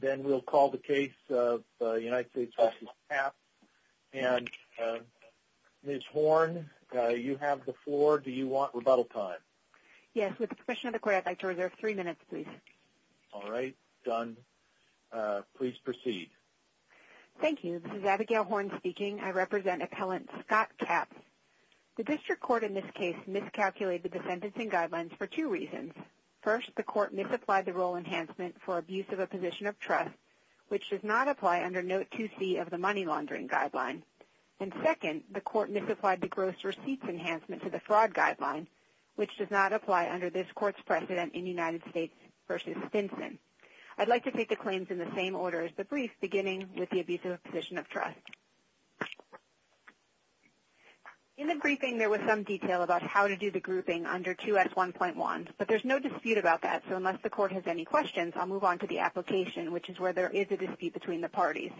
Ms. Horn, you have the floor. Do you want rebuttal time? Yes. With the permission of the Court, I'd like to reserve three minutes, please. All right. Done. Please proceed. Thank you. This is Abigail Horn speaking. I represent Appellant Scott Capps. The District Court in this case miscalculated the sentencing guidelines for two reasons. First, the Court misapplied the Role Enhancement for Abuse of a Position of Trust, which does not apply under Note 2C of the Money Laundering Guideline. And second, the Court misapplied the Gross Receipts Enhancement to the Fraud Guideline, which does not apply under this Court's precedent in United States v. Stinson. I'd like to take the claims in the same order as the brief, beginning with the Abuse of a Position of Trust. In the briefing, there was some detail about how to do the grouping under 2S1.1, but there's no dispute about that, so unless the Court has any questions, I'll move on to the application, which is where there is a dispute between the parties.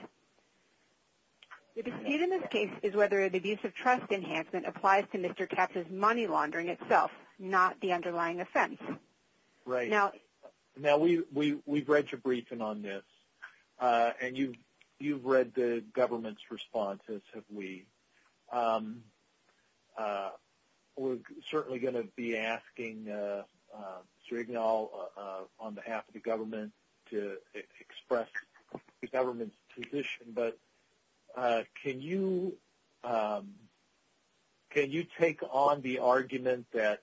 The dispute in this case is whether the Abuse of Trust Enhancement applies to Mr. Capps' money laundering itself, not the underlying offense. Right. Now, we've read your briefing on this, and you've read the government's response, as have we. We're certainly going to be asking Mr. Ignal on behalf of the government to express the government's position, but can you take on the argument that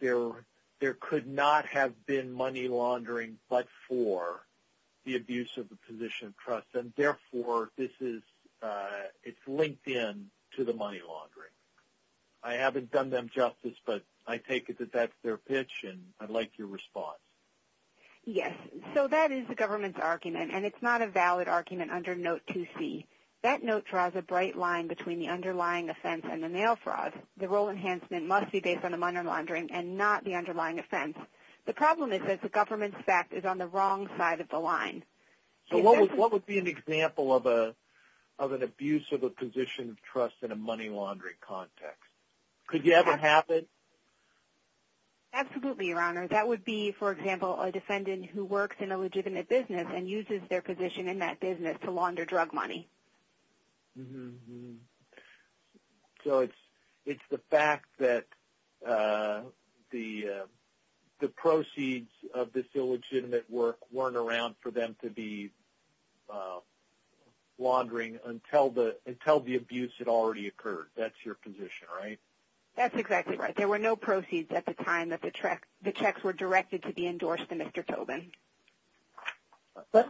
there could not have been money laundering but for the Abuse of a Position of Trust, and therefore it's linked in to the money laundering? I haven't done them justice, but I take it that that's their pitch, and I'd like your response. Yes. So that is the government's argument, and it's not a valid argument under Note 2C. That note draws a bright line between the underlying offense and the nail fraud. The Role Enhancement must be based on the money laundering and not the underlying offense. The problem is that the government's fact is on the wrong side of the line. So what would be an example of an Abuse of a Position of Trust in a money laundering context? Could you ever have it? Absolutely, Your Honor. That would be, for example, a defendant who works in a legitimate business and uses their position in that business to launder drug money. So it's the fact that the proceeds of this illegitimate work weren't around for them to be laundering until the abuse had already occurred. That's your position, right? That's exactly right. There were no proceeds at the time that the checks were directed to be endorsed to Mr. Tobin. But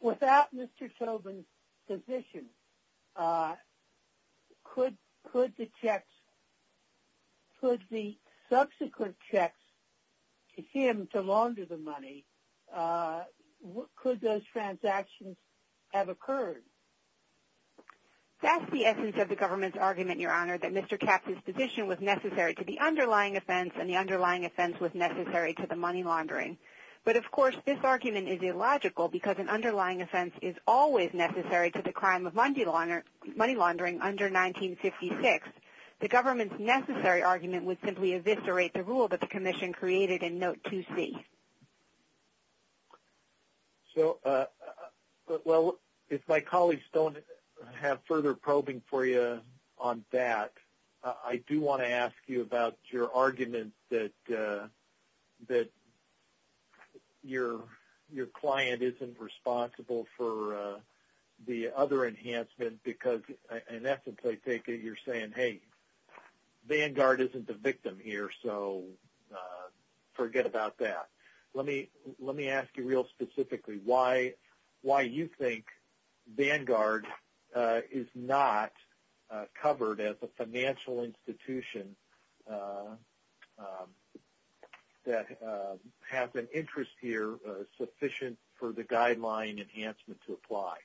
without Mr. Tobin's position, could the subsequent checks to him to launder the money, could those transactions have occurred? That's the essence of the government's argument, Your Honor, that Mr. Capp's position was necessary to the underlying offense and the underlying offense was necessary to the money laundering. But, of course, this argument is illogical because an underlying offense is always necessary to the crime of money laundering under 1956. The government's necessary argument would simply eviscerate the rule that the Commission created in Note 2C. If my colleagues don't have further probing for you on that, I do want to ask you about your argument that your client isn't responsible for the other enhancement because, in essence, I take it you're saying, hey, Vanguard isn't the victim here, so forget about that. Let me ask you real specifically why you think Vanguard is not covered as a financial institution that has an interest here sufficient for the guideline enhancement to apply.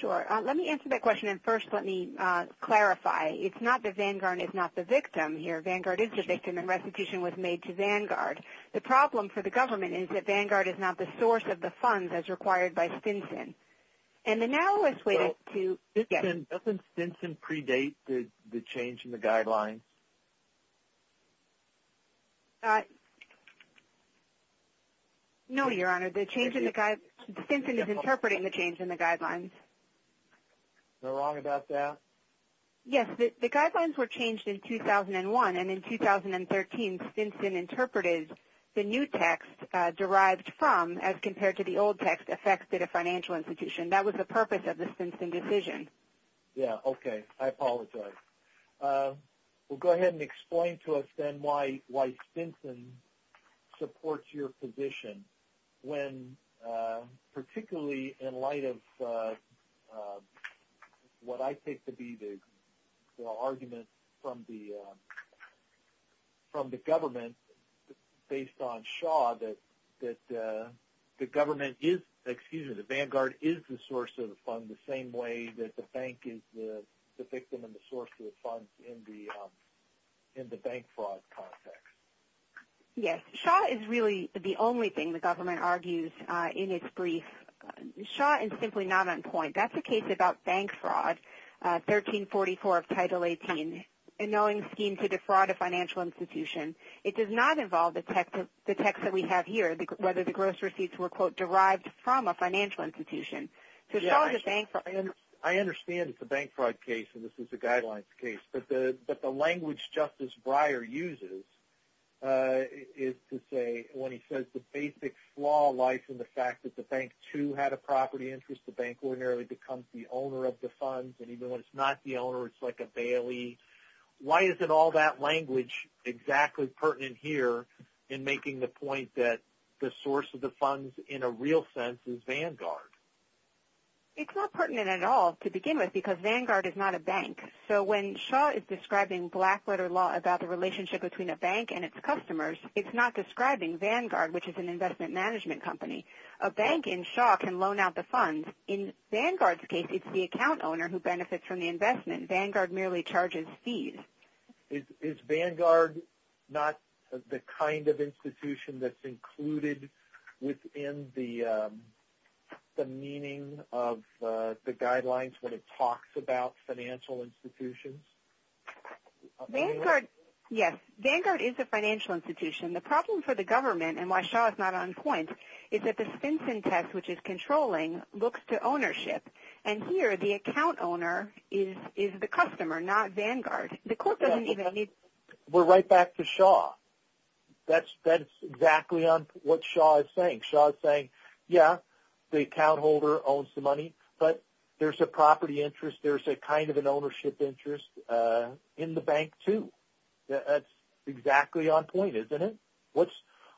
Sure. Let me answer that question, and first let me clarify. It's not that Vanguard is not the victim here. Vanguard is the victim and restitution was made to Vanguard. The problem for the government is that Vanguard is not the source of the funds as required by Stinson. Doesn't Stinson predate the change in the guidelines? No, Your Honor. Stinson is interpreting the change in the guidelines. Am I wrong about that? Yes. The guidelines were changed in 2001, and in 2013, Stinson interpreted the new text derived from as compared to the old text affected a financial institution. That was the purpose of the Stinson decision. Yes. Okay. I apologize. Well, go ahead and explain to us then why Stinson supports your position when particularly in light of what I take to be the argument from the government based on Shaw that the government is – in the bank fraud context. Yes. Shaw is really the only thing the government argues in its brief. Shaw is simply not on point. That's a case about bank fraud, 1344 of Title 18, a knowing scheme to defraud a financial institution. It does not involve the text that we have here, whether the gross receipts were, quote, derived from a financial institution. I understand it's a bank fraud case, and this is a guidelines case. But the language Justice Breyer uses is to say when he says the basic flaw lies in the fact that the bank, too, had a property interest. The bank ordinarily becomes the owner of the funds, and even when it's not the owner, it's like a bailee. Why isn't all that language exactly pertinent here in making the point that the source of the funds in a real sense is Vanguard? It's not pertinent at all to begin with because Vanguard is not a bank. So when Shaw is describing black letter law about the relationship between a bank and its customers, it's not describing Vanguard, which is an investment management company. A bank in Shaw can loan out the funds. In Vanguard's case, it's the account owner who benefits from the investment. Vanguard merely charges fees. Is Vanguard not the kind of institution that's included within the meaning of the guidelines when it talks about financial institutions? Vanguard, yes, Vanguard is a financial institution. The problem for the government, and why Shaw is not on point, is that the Stinson test, which is controlling, looks to ownership. And here, the account owner is the customer, not Vanguard. The court doesn't even need... We're right back to Shaw. That's exactly what Shaw is saying. Shaw is saying, yeah, the account holder owns the money, but there's a property interest, there's a kind of an ownership interest in the bank too. That's exactly on point, isn't it?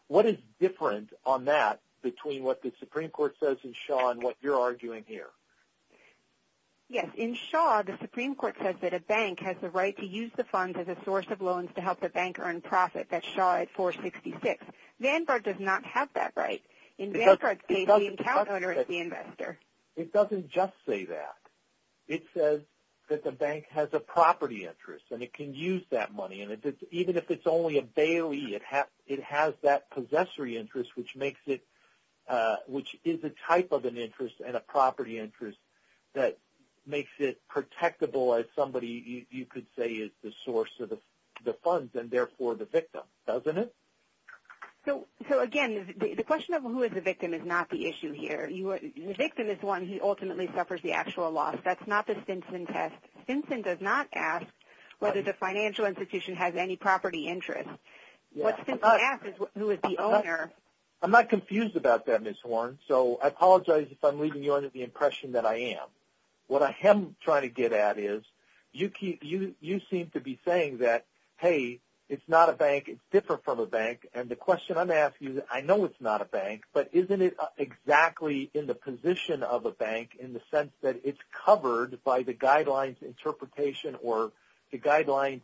What is different on that between what the Supreme Court says in Shaw and what you're arguing here? Yes, in Shaw, the Supreme Court says that a bank has the right to use the funds as a source of loans to help the bank earn profit. That's Shaw at 466. Vanguard does not have that right. In Vanguard's case, the account owner is the investor. It doesn't just say that. It says that the bank has a property interest, and it can use that money. Even if it's only a bailee, it has that possessory interest, which is a type of an interest and a property interest that makes it protectable as somebody, you could say, is the source of the funds and, therefore, the victim, doesn't it? So, again, the question of who is the victim is not the issue here. The victim is the one who ultimately suffers the actual loss. That's not the Stinson test. Stinson does not ask whether the financial institution has any property interest. What Stinson asks is who is the owner. I'm not confused about that, Ms. Horne, so I apologize if I'm leaving you under the impression that I am. What I am trying to get at is you seem to be saying that, hey, it's not a bank, it's different from a bank, I know it's not a bank, but isn't it exactly in the position of a bank in the sense that it's covered by the guidelines interpretation or the guidelines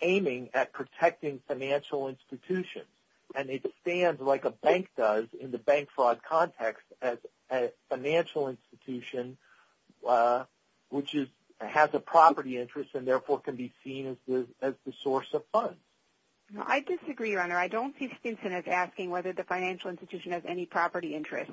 aiming at protecting financial institutions, and it stands like a bank does in the bank fraud context as a financial institution which has a property interest and, therefore, can be seen as the source of funds? I disagree, Your Honor. I don't see Stinson as asking whether the financial institution has any property interest.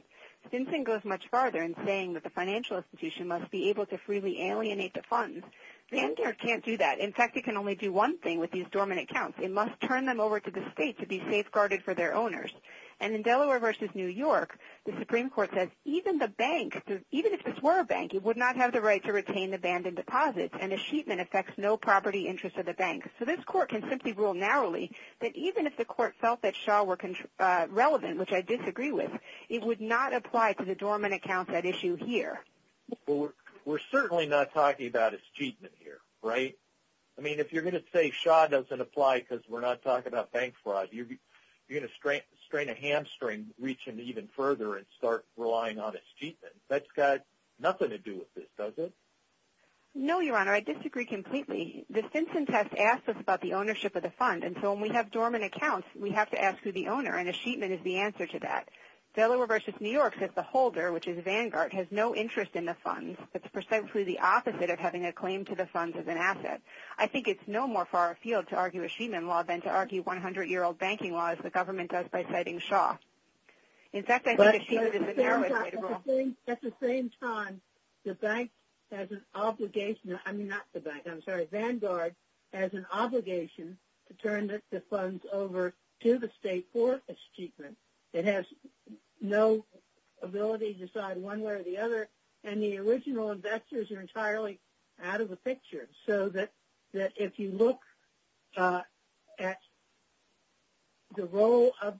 Stinson goes much farther in saying that the financial institution must be able to freely alienate the funds. Vanguard can't do that. In fact, it can only do one thing with these dormant accounts. It must turn them over to the state to be safeguarded for their owners. And in Delaware v. New York, the Supreme Court says even the bank, even if this were a bank, it would not have the right to retain abandoned deposits, and a sheet that affects no property interest of the bank. So this court can simply rule narrowly that even if the court felt that Shaw were relevant, which I disagree with, it would not apply to the dormant accounts at issue here. Well, we're certainly not talking about a sheetman here, right? I mean, if you're going to say Shaw doesn't apply because we're not talking about bank fraud, you're going to strain a hamstring reaching even further and start relying on a sheetman. That's got nothing to do with this, does it? No, Your Honor. I disagree completely. The Stinson test asks us about the ownership of the fund, and so when we have dormant accounts, we have to ask who the owner, and a sheetman is the answer to that. Delaware v. New York says the holder, which is Vanguard, has no interest in the funds. That's precisely the opposite of having a claim to the funds as an asset. I think it's no more far afield to argue a sheetman law than to argue 100-year-old banking law, as the government does by citing Shaw. In fact, I think a sheetman is the narrowest way to rule. At the same time, Vanguard has an obligation to turn the funds over to the state for a sheetman. It has no ability to decide one way or the other, and the original investors are entirely out of the picture. If you look at the role of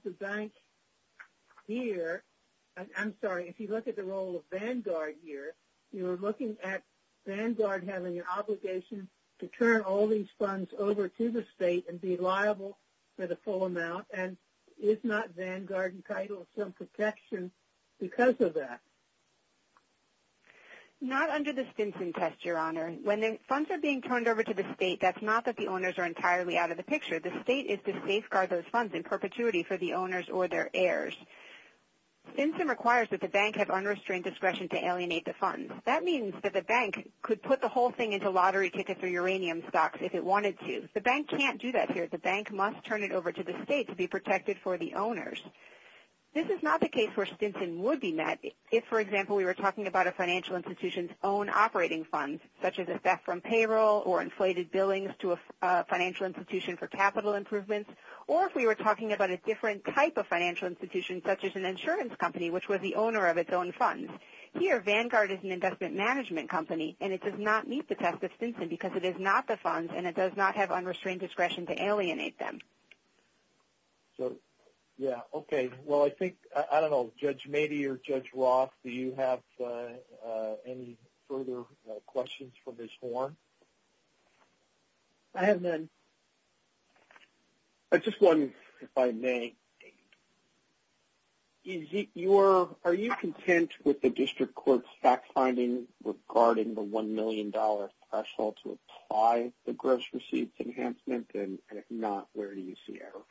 Vanguard here, you're looking at Vanguard having an obligation to turn all these funds over to the state and be liable for the full amount, and is not Vanguard entitled to some protection because of that? Not under the Stinson test, Your Honor. When the funds are being turned over to the state, that's not that the owners are entirely out of the picture. The state is to safeguard those funds in perpetuity for the owners or their heirs. Stinson requires that the bank have unrestrained discretion to alienate the funds. That means that the bank could put the whole thing into lottery tickets or uranium stocks if it wanted to. The bank can't do that here. The bank must turn it over to the state to be protected for the owners. This is not the case where Stinson would be met if, for example, we were talking about a financial institution's own operating funds, such as a theft from payroll or inflated billings to a financial institution for capital improvements, or if we were talking about a different type of financial institution, such as an insurance company, which was the owner of its own funds. Here, Vanguard is an investment management company, and it does not meet the test of Stinson because it is not the funds and it does not have unrestrained discretion to alienate them. So, yeah, okay. Well, I think, I don't know, Judge Mady or Judge Roth, do you have any further questions for Ms. Horn? I have none. I just wondered if I may, are you content with the district court's fact-finding regarding the $1 million threshold to apply the gross receipts enhancement, and if not, where do you see error?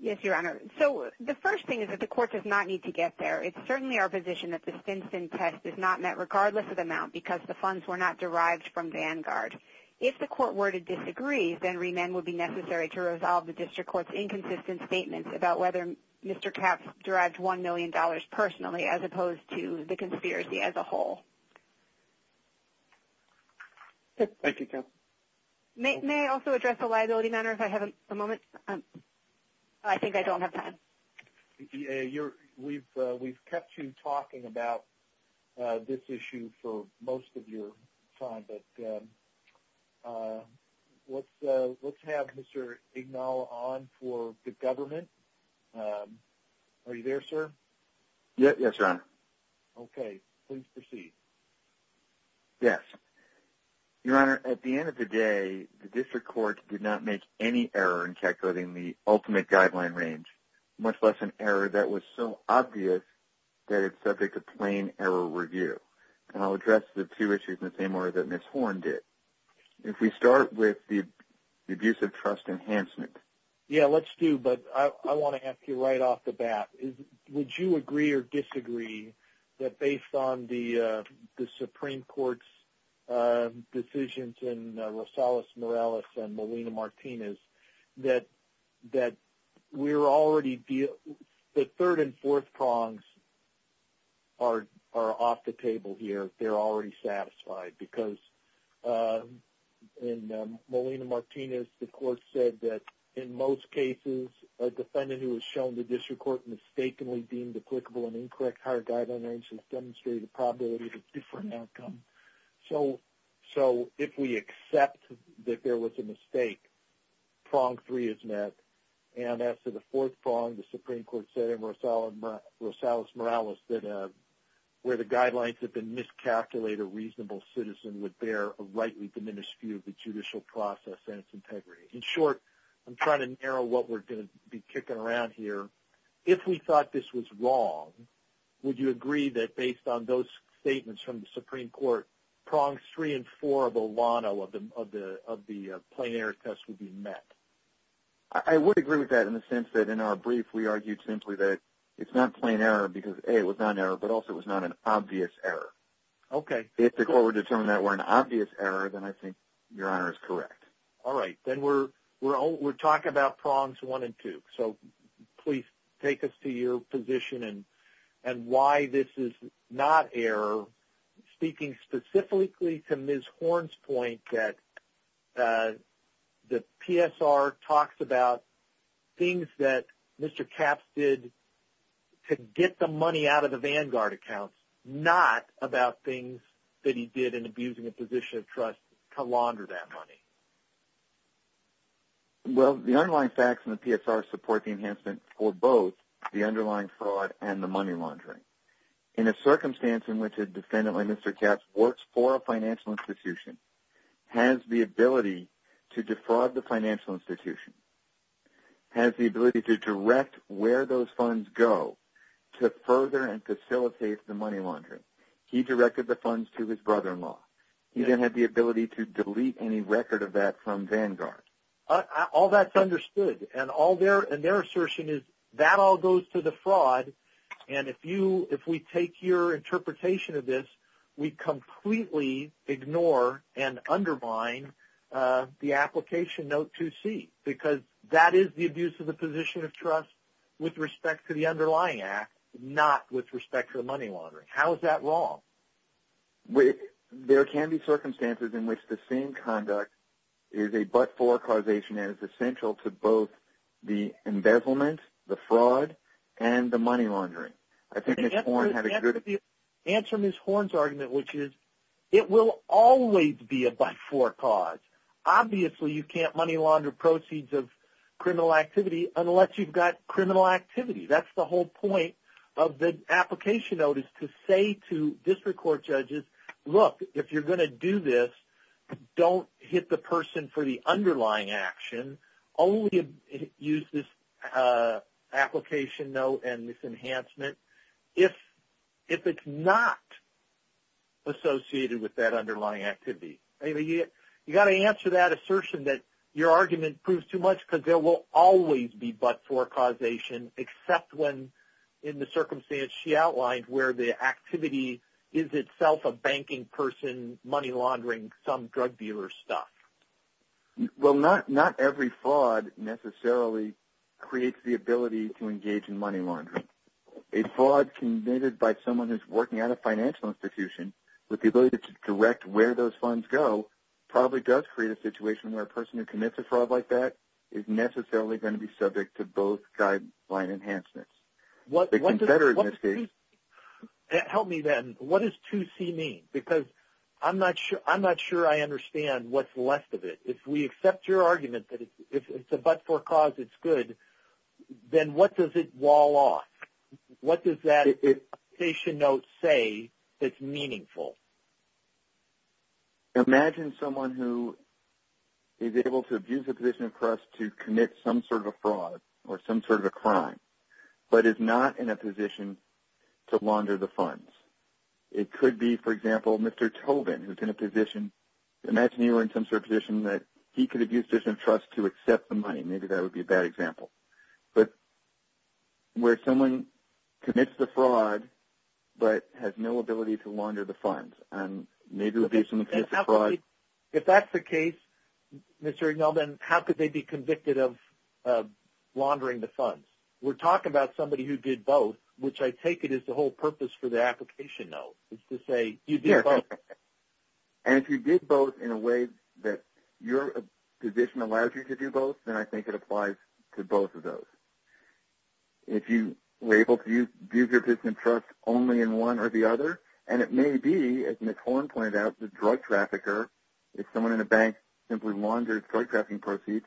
Yes, Your Honor. So the first thing is that the court does not need to get there. It's certainly our position that the Stinson test is not met, regardless of the amount, because the funds were not derived from Vanguard. If the court were to disagree, then remand would be necessary to resolve the district court's May I also address a liability matter if I have a moment? I think I don't have time. We've kept you talking about this issue for most of your time, but let's have Mr. Ignal on for the government. Are you there, sir? Yes, Your Honor. Okay. Please proceed. Yes. Your Honor, at the end of the day, the district court did not make any error in calculating the ultimate guideline range, much less an error that was so obvious that it's subject to plain error review. And I'll address the two issues in the same order that Ms. Horn did. If we start with the abuse of trust enhancement. Yeah, let's do, but I want to ask you right off the bat. Would you agree or disagree that based on the Supreme Court's decisions in Rosales-Morales and Molina-Martinez, that we're already, the third and fourth prongs are off the table here. They're already satisfied because in Molina-Martinez, the court said that in most cases, a defendant who was shown to district court mistakenly deemed applicable and incorrect higher guideline range has demonstrated a probability of a different outcome. So if we accept that there was a mistake, prong three is met, and as to the fourth prong, the Supreme Court said in Rosales-Morales that where the guidelines have been miscalculated, a reasonable citizen would bear a rightly diminished view of the judicial process and its integrity. In short, I'm trying to narrow what we're going to be kicking around here. If we thought this was wrong, would you agree that based on those statements from the Supreme Court, prongs three and four of Olano of the plain error test would be met? I would agree with that in the sense that in our brief, we argued simply that it's not plain error because, A, it was not an error, but also it was not an obvious error. Okay. If the court would determine that were an obvious error, then I think Your Honor is correct. All right. Then we're talking about prongs one and two. So please take us to your position and why this is not error, speaking specifically to Ms. Horn's point that the PSR talks about things that Mr. Capps did to get the money out of the Vanguard accounts, not about things that he did in abusing a position of trust to launder that money. Well, the underlying facts in the PSR support the enhancement for both the underlying fraud and the money laundering. In a circumstance in which a defendant like Mr. Capps works for a financial institution, has the ability to defraud the financial institution, has the ability to direct where those funds go to further and facilitate the money laundering. He directed the funds to his brother-in-law. He then had the ability to delete any record of that from Vanguard. All that's understood. And their assertion is that all goes to the fraud, and if we take your interpretation of this, we completely ignore and undermine the application note 2C, because that is the abuse of the position of trust with respect to the underlying act, not with respect to the money laundering. How is that wrong? There can be circumstances in which the same conduct is a but-for causation and is essential to both the embezzlement, the fraud, and the money laundering. Answer Ms. Horne's argument, which is it will always be a but-for cause. Obviously, you can't money launder proceeds of criminal activity unless you've got criminal activity. That's the whole point of the application note is to say to district court judges, look, if you're going to do this, don't hit the person for the underlying action. Only use this application note and this enhancement if it's not associated with that underlying activity. You've got to answer that assertion that your argument proves too much, because there will always be but-for causation, except when, in the circumstance she outlined, where the activity is itself a banking person money laundering some drug dealer's stuff. Well, not every fraud necessarily creates the ability to engage in money laundering. A fraud committed by someone who's working at a financial institution with the ability to direct where those funds go probably does create a situation where a person who commits a fraud like that is necessarily going to be subject to both guideline enhancements. Help me then. What does 2C mean? Because I'm not sure I understand what's left of it. If we accept your argument that if it's a but-for cause it's good, then what does it wall off? What does that application note say that's meaningful? Imagine someone who is able to abuse a position of trust to commit some sort of a fraud or some sort of a crime but is not in a position to launder the funds. It could be, for example, Mr. Tobin who's in a position. Imagine you were in some sort of position that he could abuse a position of trust to accept the money. Maybe that would be a bad example. But where someone commits the fraud but has no ability to launder the funds, and maybe it would be someone who commits the fraud. If that's the case, Mr. Egelman, how could they be convicted of laundering the funds? We're talking about somebody who did both, which I take it is the whole purpose for the application note is to say you did both. And if you did both in a way that your position allows you to do both, then I think it applies to both of those. If you were able to abuse your position of trust only in one or the other, and it may be, as Ms. Horne pointed out, the drug trafficker. If someone in a bank simply laundered drug trafficking proceeds,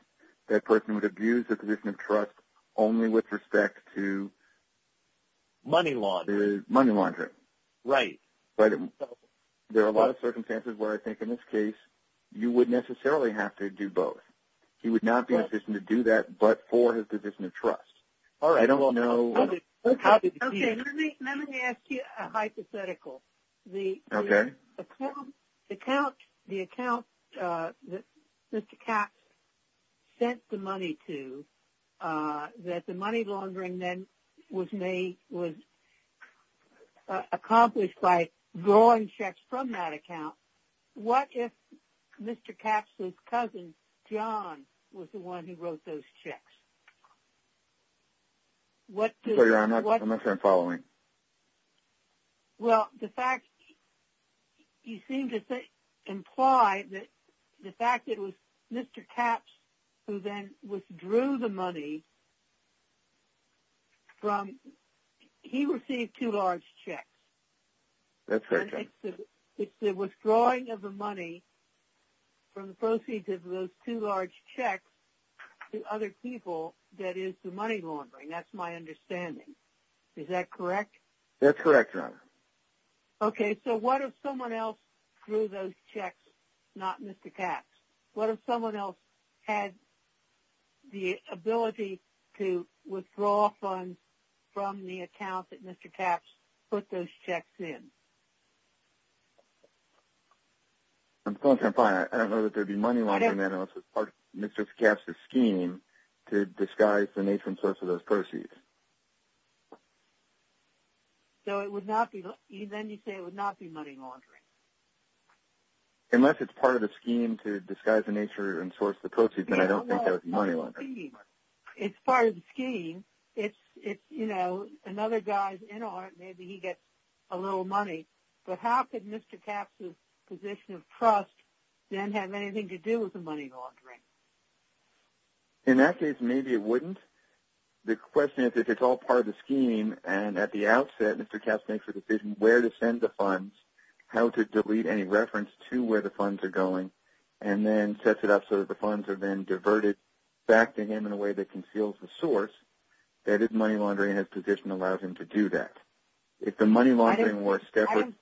that person would abuse their position of trust only with respect to money laundering. Right. There are a lot of circumstances where I think in this case you would necessarily have to do both. He would not be in a position to do that but for his position of trust. Let me ask you a hypothetical. The account that Mr. Capps sent the money to, that the money laundering then was accomplished by drawing checks from that account, what if Mr. Capps' cousin John was the one who wrote those checks? I'm not sure I'm following. Well, the fact you seem to imply that the fact that it was Mr. Capps who then withdrew the money from, he received two large checks. That's correct. It's the withdrawing of the money from the proceeds of those two large checks to other people that is the money laundering. That's my understanding. Is that correct? That's correct, Your Honor. Okay. So what if someone else drew those checks, not Mr. Capps? What if someone else had the ability to withdraw funds from the account that Mr. Capps put those checks in? I'm still trying to find it. I don't know that there would be money laundering unless it's part of Mr. Capps' scheme to disguise the nature and source of those proceeds. So then you say it would not be money laundering? Unless it's part of the scheme to disguise the nature and source of the proceeds, then I don't think there would be money laundering. It's part of the scheme. It's, you know, another guy's in on it, maybe he gets a little money. But how could Mr. Capps' position of trust then have anything to do with the money laundering? In that case, maybe it wouldn't. The question is if it's all part of the scheme and at the outset Mr. Capps makes a decision where to send the funds, how to delete any reference to where the funds are going, and then sets it up so that the funds are then diverted back to him in a way that conceals the source, that is money laundering in his position allows him to do that. If the money laundering were separate...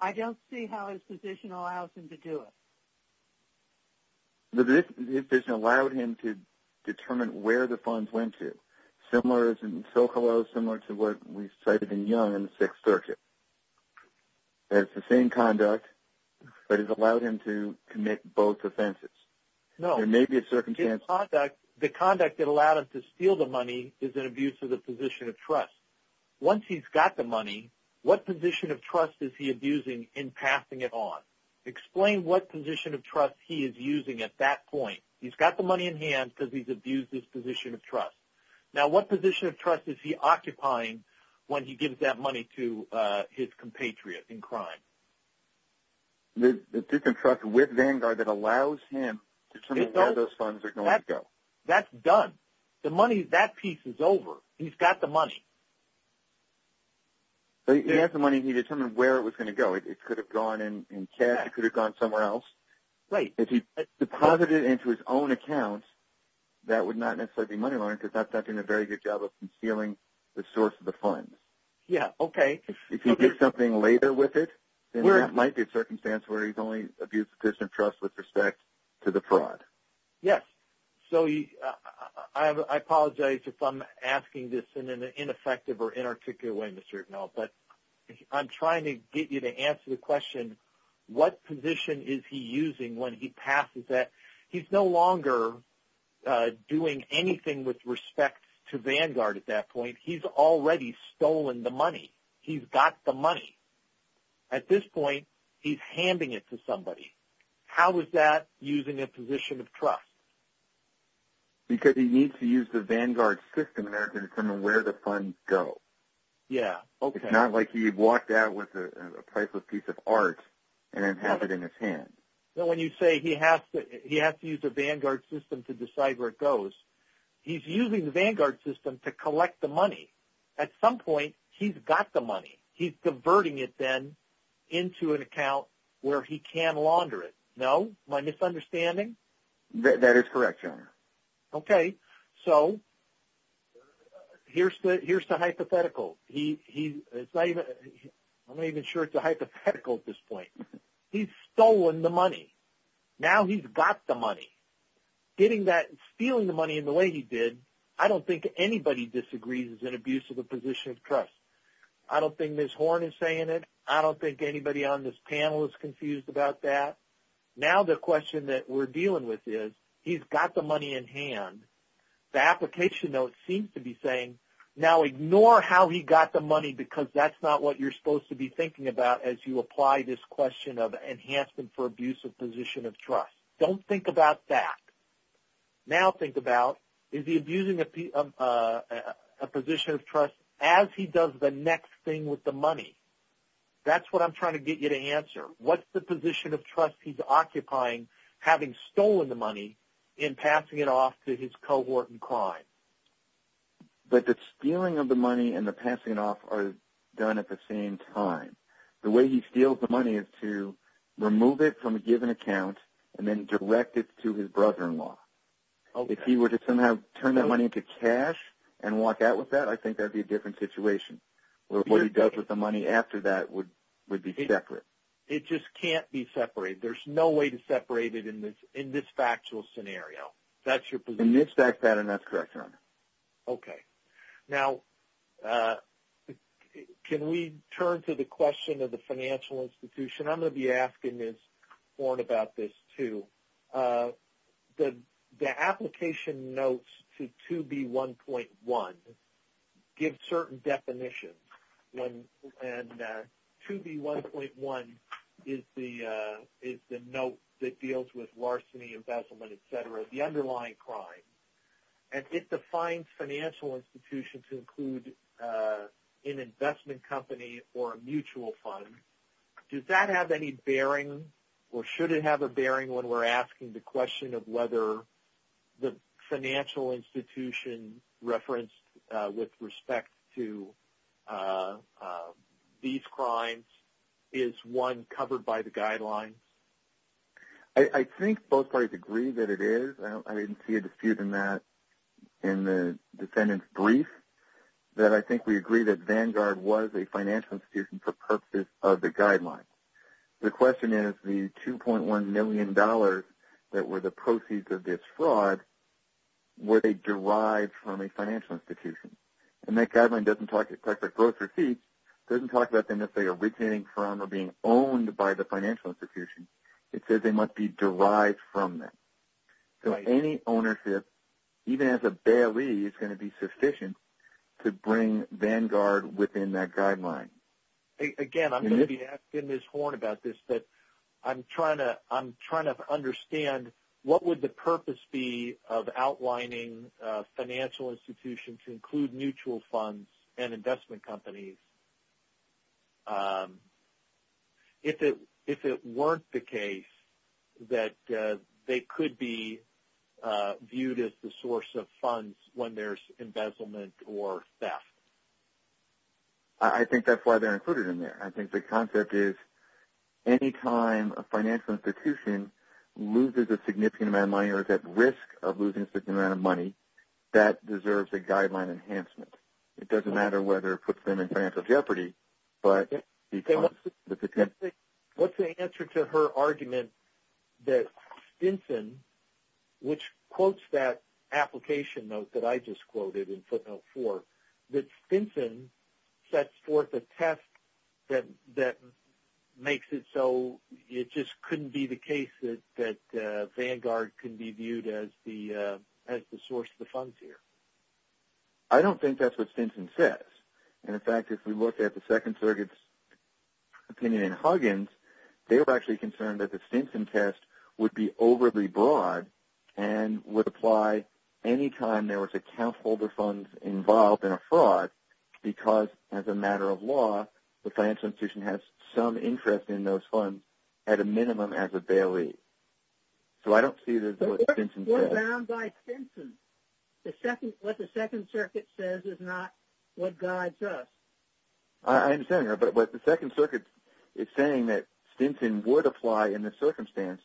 I don't see how his position allows him to do it. His position allowed him to determine where the funds went to, similar as in Socolow, similar to what we cited in Young in the Sixth Circuit. It's the same conduct, but it allowed him to commit both offenses. No. There may be a circumstance... His conduct, the conduct that allowed him to steal the money is an abuse of the position of trust. Once he's got the money, what position of trust is he abusing in passing it on? Explain what position of trust he is using at that point. He's got the money in hand because he's abused his position of trust. Now what position of trust is he occupying when he gives that money to his compatriot in crime? The position of trust with Vanguard that allows him to determine where those funds are going to go. That's done. The money, that piece is over. He's got the money. He has the money. He determined where it was going to go. It could have gone in cash. It could have gone somewhere else. Right. If he deposited it into his own account, that would not necessarily be money laundering because that's not doing a very good job of concealing the source of the funds. Yeah, okay. If he did something later with it, then there might be a circumstance where he's only abused the position of trust with respect to the fraud. Yes. I apologize if I'm asking this in an ineffective or inarticulate way, Mr. O'Donnell, but I'm trying to get you to answer the question, what position is he using when he passes that? He's no longer doing anything with respect to Vanguard at that point. He's already stolen the money. He's got the money. At this point, he's handing it to somebody. How is that using a position of trust? Because he needs to use the Vanguard system there to determine where the funds go. Yeah, okay. It's not like he walked out with a priceless piece of art and then has it in his hand. When you say he has to use the Vanguard system to decide where it goes, he's using the Vanguard system to collect the money. At some point, he's got the money. He's converting it then into an account where he can launder it. No? Am I misunderstanding? That is correct, Your Honor. Okay. So here's the hypothetical. I'm not even sure it's a hypothetical at this point. He's stolen the money. Now he's got the money. Stealing the money in the way he did, I don't think anybody disagrees is an abuse of the position of trust. I don't think Ms. Horn is saying it. I don't think anybody on this panel is confused about that. Now the question that we're dealing with is, he's got the money in hand. The application note seems to be saying, now ignore how he got the money because that's not what you're supposed to be thinking about as you apply this question of enhancement for abuse of position of trust. Don't think about that. Now think about, is he abusing a position of trust as he does the next thing with the money? That's what I'm trying to get you to answer. What's the position of trust he's occupying having stolen the money in passing it off to his cohort in crime? The stealing of the money and the passing it off are done at the same time. The way he steals the money is to remove it from a given account and then direct it to his brother-in-law. If he were to somehow turn that money into cash and walk out with that, I think that would be a different situation. What he does with the money after that would be separate. It just can't be separated. There's no way to separate it in this factual scenario. In this fact pattern, that's correct, Your Honor. Okay. Now can we turn to the question of the financial institution? I'm going to be asking this, Warren, about this too. The application notes to 2B1.1 give certain definitions. 2B1.1 is the note that deals with larceny, embezzlement, et cetera, the underlying crime, and it defines financial institutions include an investment company or a mutual fund. Does that have any bearing or should it have a bearing when we're asking the question of whether the financial institution referenced with respect to these crimes is one covered by the guidelines? I think both parties agree that it is. I didn't see a dispute in that in the defendant's brief. I think we agree that Vanguard was a financial institution for purposes of the guidelines. The question is the $2.1 million that were the proceeds of this fraud, were they derived from a financial institution? That guideline doesn't talk about gross receipts. It doesn't talk about them necessarily originating from or being owned by the financial institution. It says they must be derived from them. So any ownership, even as a bailee, is going to be sufficient to bring Vanguard within that guideline. Again, I'm going to be asking Ms. Horn about this, but I'm trying to understand what would the purpose be of outlining financial institutions include mutual funds and investment companies. If it weren't the case, that they could be viewed as the source of funds when there's embezzlement or theft. I think that's why they're included in there. I think the concept is any time a financial institution loses a significant amount of money or is at risk of losing a significant amount of money, that deserves a guideline enhancement. It doesn't matter whether it puts them in financial jeopardy. What's the answer to her argument that Stinson, which quotes that application note that I just quoted in footnote 4, that Stinson sets forth a test that makes it so it just couldn't be the case that Vanguard can be viewed as the source of the funds here? I don't think that's what Stinson says. In fact, if we look at the Second Circuit's opinion in Huggins, they were actually concerned that the Stinson test would be overly broad and would apply any time there was account holder funds involved in a fraud because, as a matter of law, the financial institution has some interest in those funds, at a minimum, as a bailee. So I don't see this as what Stinson says. We're bound by Stinson. What the Second Circuit says is not what guides us. I understand that, but what the Second Circuit is saying is that Stinson would apply in this circumstance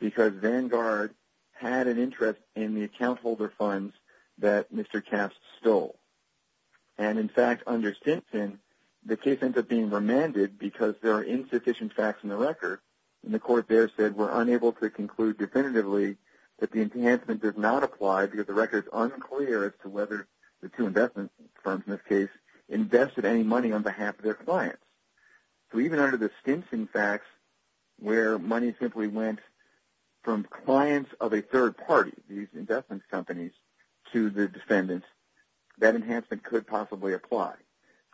because Vanguard had an interest in the account holder funds that Mr. Capps stole. And, in fact, under Stinson, the case ends up being remanded because there are insufficient facts in the record, and the court there said, we're unable to conclude definitively that the enhancement does not apply because the record is unclear as to whether the two investment firms, in this case, invested any money on behalf of their clients. So even under the Stinson facts, where money simply went from clients of a third party, these investment companies, to the defendants, that enhancement could possibly apply.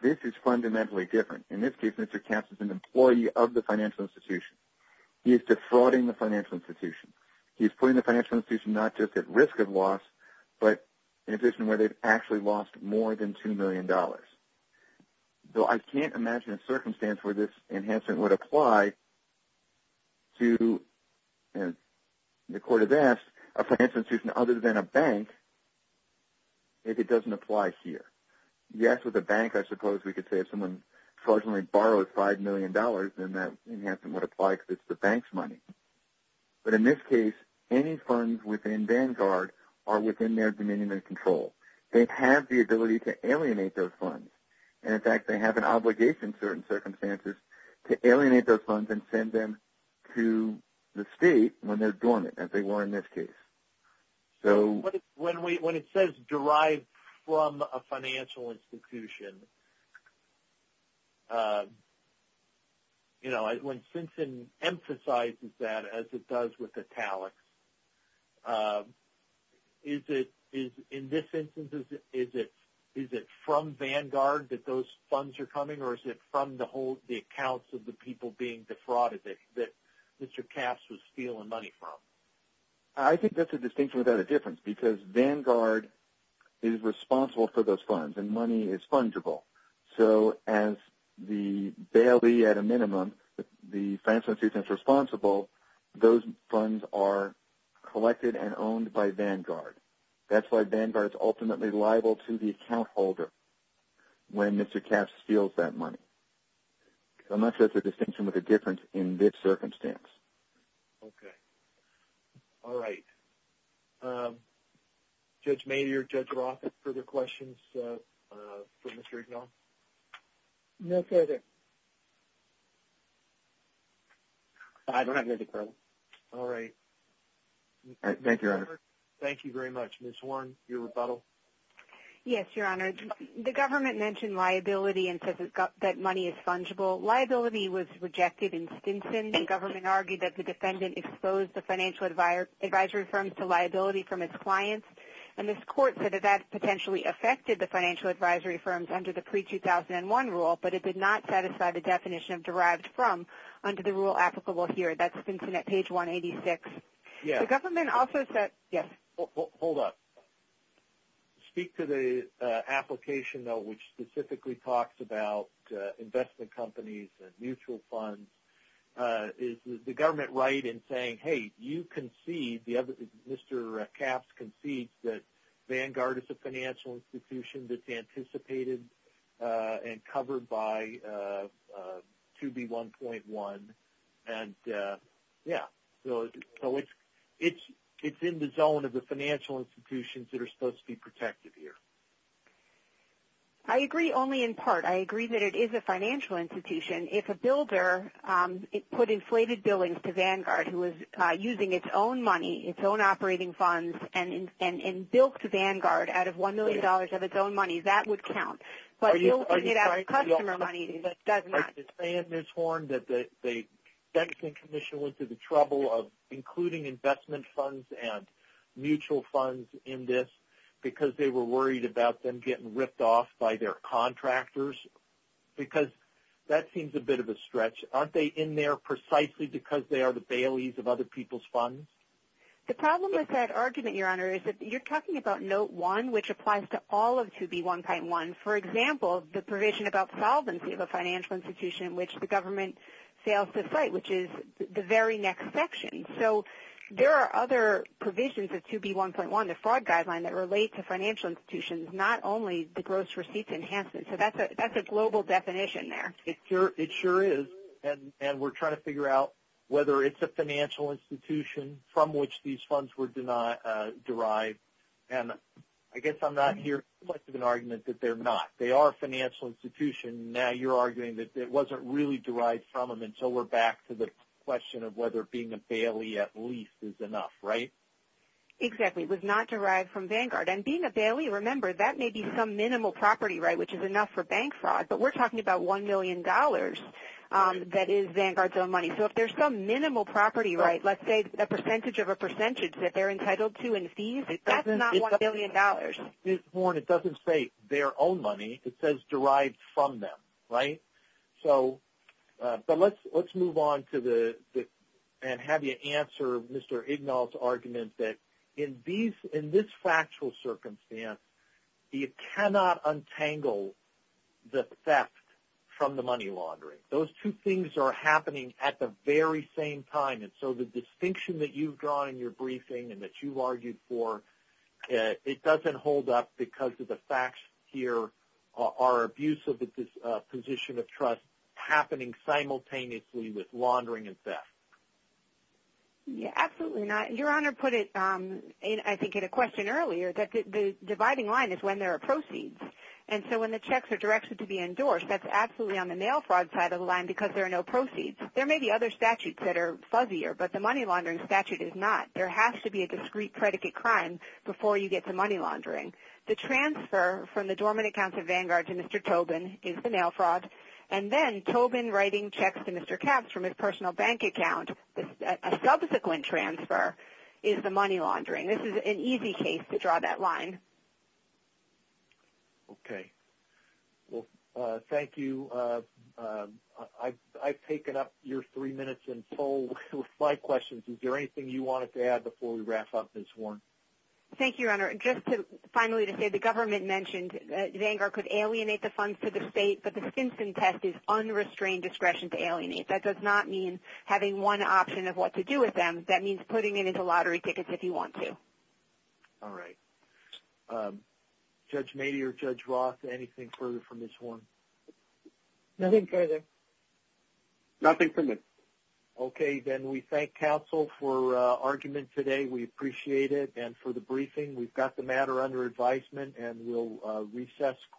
This is fundamentally different. In this case, Mr. Capps is an employee of the financial institution. He is defrauding the financial institution. He is putting the financial institution not just at risk of loss, but in addition where they've actually lost more than $2 million. So I can't imagine a circumstance where this enhancement would apply to, and the court has asked, a financial institution other than a bank if it doesn't apply here. Yes, with a bank, I suppose we could say, if someone fraudulently borrowed $5 million, then that enhancement would apply because it's the bank's money. But in this case, any funds within Vanguard are within their dominion and control. They have the ability to alienate those funds. And, in fact, they have an obligation in certain circumstances to alienate those funds and send them to the state when they're dormant, as they were in this case. When it says derived from a financial institution, when Simpson emphasizes that, as it does with Italics, in this instance, is it from Vanguard that those funds are coming, or is it from the accounts of the people being defrauded that Mr. Capps was stealing money from? I think that's a distinction without a difference because Vanguard is responsible for those funds, and money is fungible. So as the bailee at a minimum, the financial institution that's responsible, those funds are collected and owned by Vanguard. That's why Vanguard is ultimately liable to the account holder when Mr. Capps steals that money. So I'm not sure that's a distinction with a difference in this circumstance. Okay. All right. Judge Maynard, Judge Roth, further questions for Mr. Ignall? No further. I don't have anything further. All right. Thank you, Your Honor. Thank you very much. Ms. Warren, your rebuttal? Yes, Your Honor. The government mentioned liability and says that money is fungible. Liability was rejected in Stinson. The government argued that the defendant exposed the financial advisory firms to liability from its clients, and this court said that that potentially affected the financial advisory firms under the pre-2001 rule, but it did not satisfy the definition of derived from under the rule applicable here. That's Stinson at page 186. Yes. The government also said – yes. Hold on. Speak to the application, though, which specifically talks about investment companies and mutual funds. Is the government right in saying, hey, you concede, Mr. Capps concedes, that Vanguard is a financial institution that's anticipated and covered by 2B1.1, and yeah. So it's in the zone of the financial institutions that are supposed to be protected here. I agree only in part. I agree that it is a financial institution. If a builder put inflated billings to Vanguard, who is using its own money, its own operating funds, and built Vanguard out of $1 million of its own money, that would count. But you'll get out of customer money that does not. I understand, Ms. Horn, that the Stinson Commission went through the trouble of including investment funds and mutual funds in this because they were worried about them getting ripped off by their contractors. Because that seems a bit of a stretch. Aren't they in there precisely because they are the baileys of other people's funds? The problem with that argument, Your Honor, is that you're talking about Note 1, which applies to all of 2B1.1. And, for example, the provision about solvency of a financial institution in which the government fails to fight, which is the very next section. So there are other provisions of 2B1.1, the fraud guideline, that relate to financial institutions, not only the gross receipts enhancement. So that's a global definition there. It sure is. And we're trying to figure out whether it's a financial institution from which these funds were derived. And I guess I'm not hearing much of an argument that they're not. They are a financial institution. Now you're arguing that it wasn't really derived from them. And so we're back to the question of whether being a bailey at least is enough, right? Exactly. It was not derived from Vanguard. And being a bailey, remember, that may be some minimal property right, which is enough for bank fraud. But we're talking about $1 million that is Vanguard's own money. So if there's some minimal property right, let's say a percentage of a percentage that they're entitled to in fees, that's not $1 million. Warren, it doesn't say their own money. It says derived from them, right? So let's move on and have you answer Mr. Ignald's argument that in this factual circumstance you cannot untangle the theft from the money laundering. Those two things are happening at the very same time. And so the distinction that you've drawn in your briefing and that you've made here, it doesn't hold up because of the facts here are abusive at this position of trust happening simultaneously with laundering and theft. Yeah, absolutely not. Your Honor put it, I think, in a question earlier that the dividing line is when there are proceeds. And so when the checks are directed to be endorsed, that's absolutely on the mail fraud side of the line because there are no proceeds. There may be other statutes that are fuzzier, but the money laundering statute is not. There has to be a discreet predicate crime before you get to money laundering. The transfer from the dormant accounts of Vanguard to Mr. Tobin is the mail fraud. And then Tobin writing checks to Mr. Capps from his personal bank account, a subsequent transfer, is the money laundering. This is an easy case to draw that line. Okay. Well, thank you. I've taken up your three minutes in full with five questions. Is there anything you wanted to add before we wrap up, Ms. Horn? Thank you, Your Honor. Just finally to say the government mentioned that Vanguard could alienate the funds to the state, but the Stinson test is unrestrained discretion to alienate. That does not mean having one option of what to do with them. That means putting it into lottery tickets if you want to. All right. Judge Mady or Judge Roth, anything further from Ms. Horn? Nothing further. Nothing from me. Okay. Then we thank counsel for argument today. We appreciate it. And for the briefing, we've got the matter under advisement, and we'll recess quickly.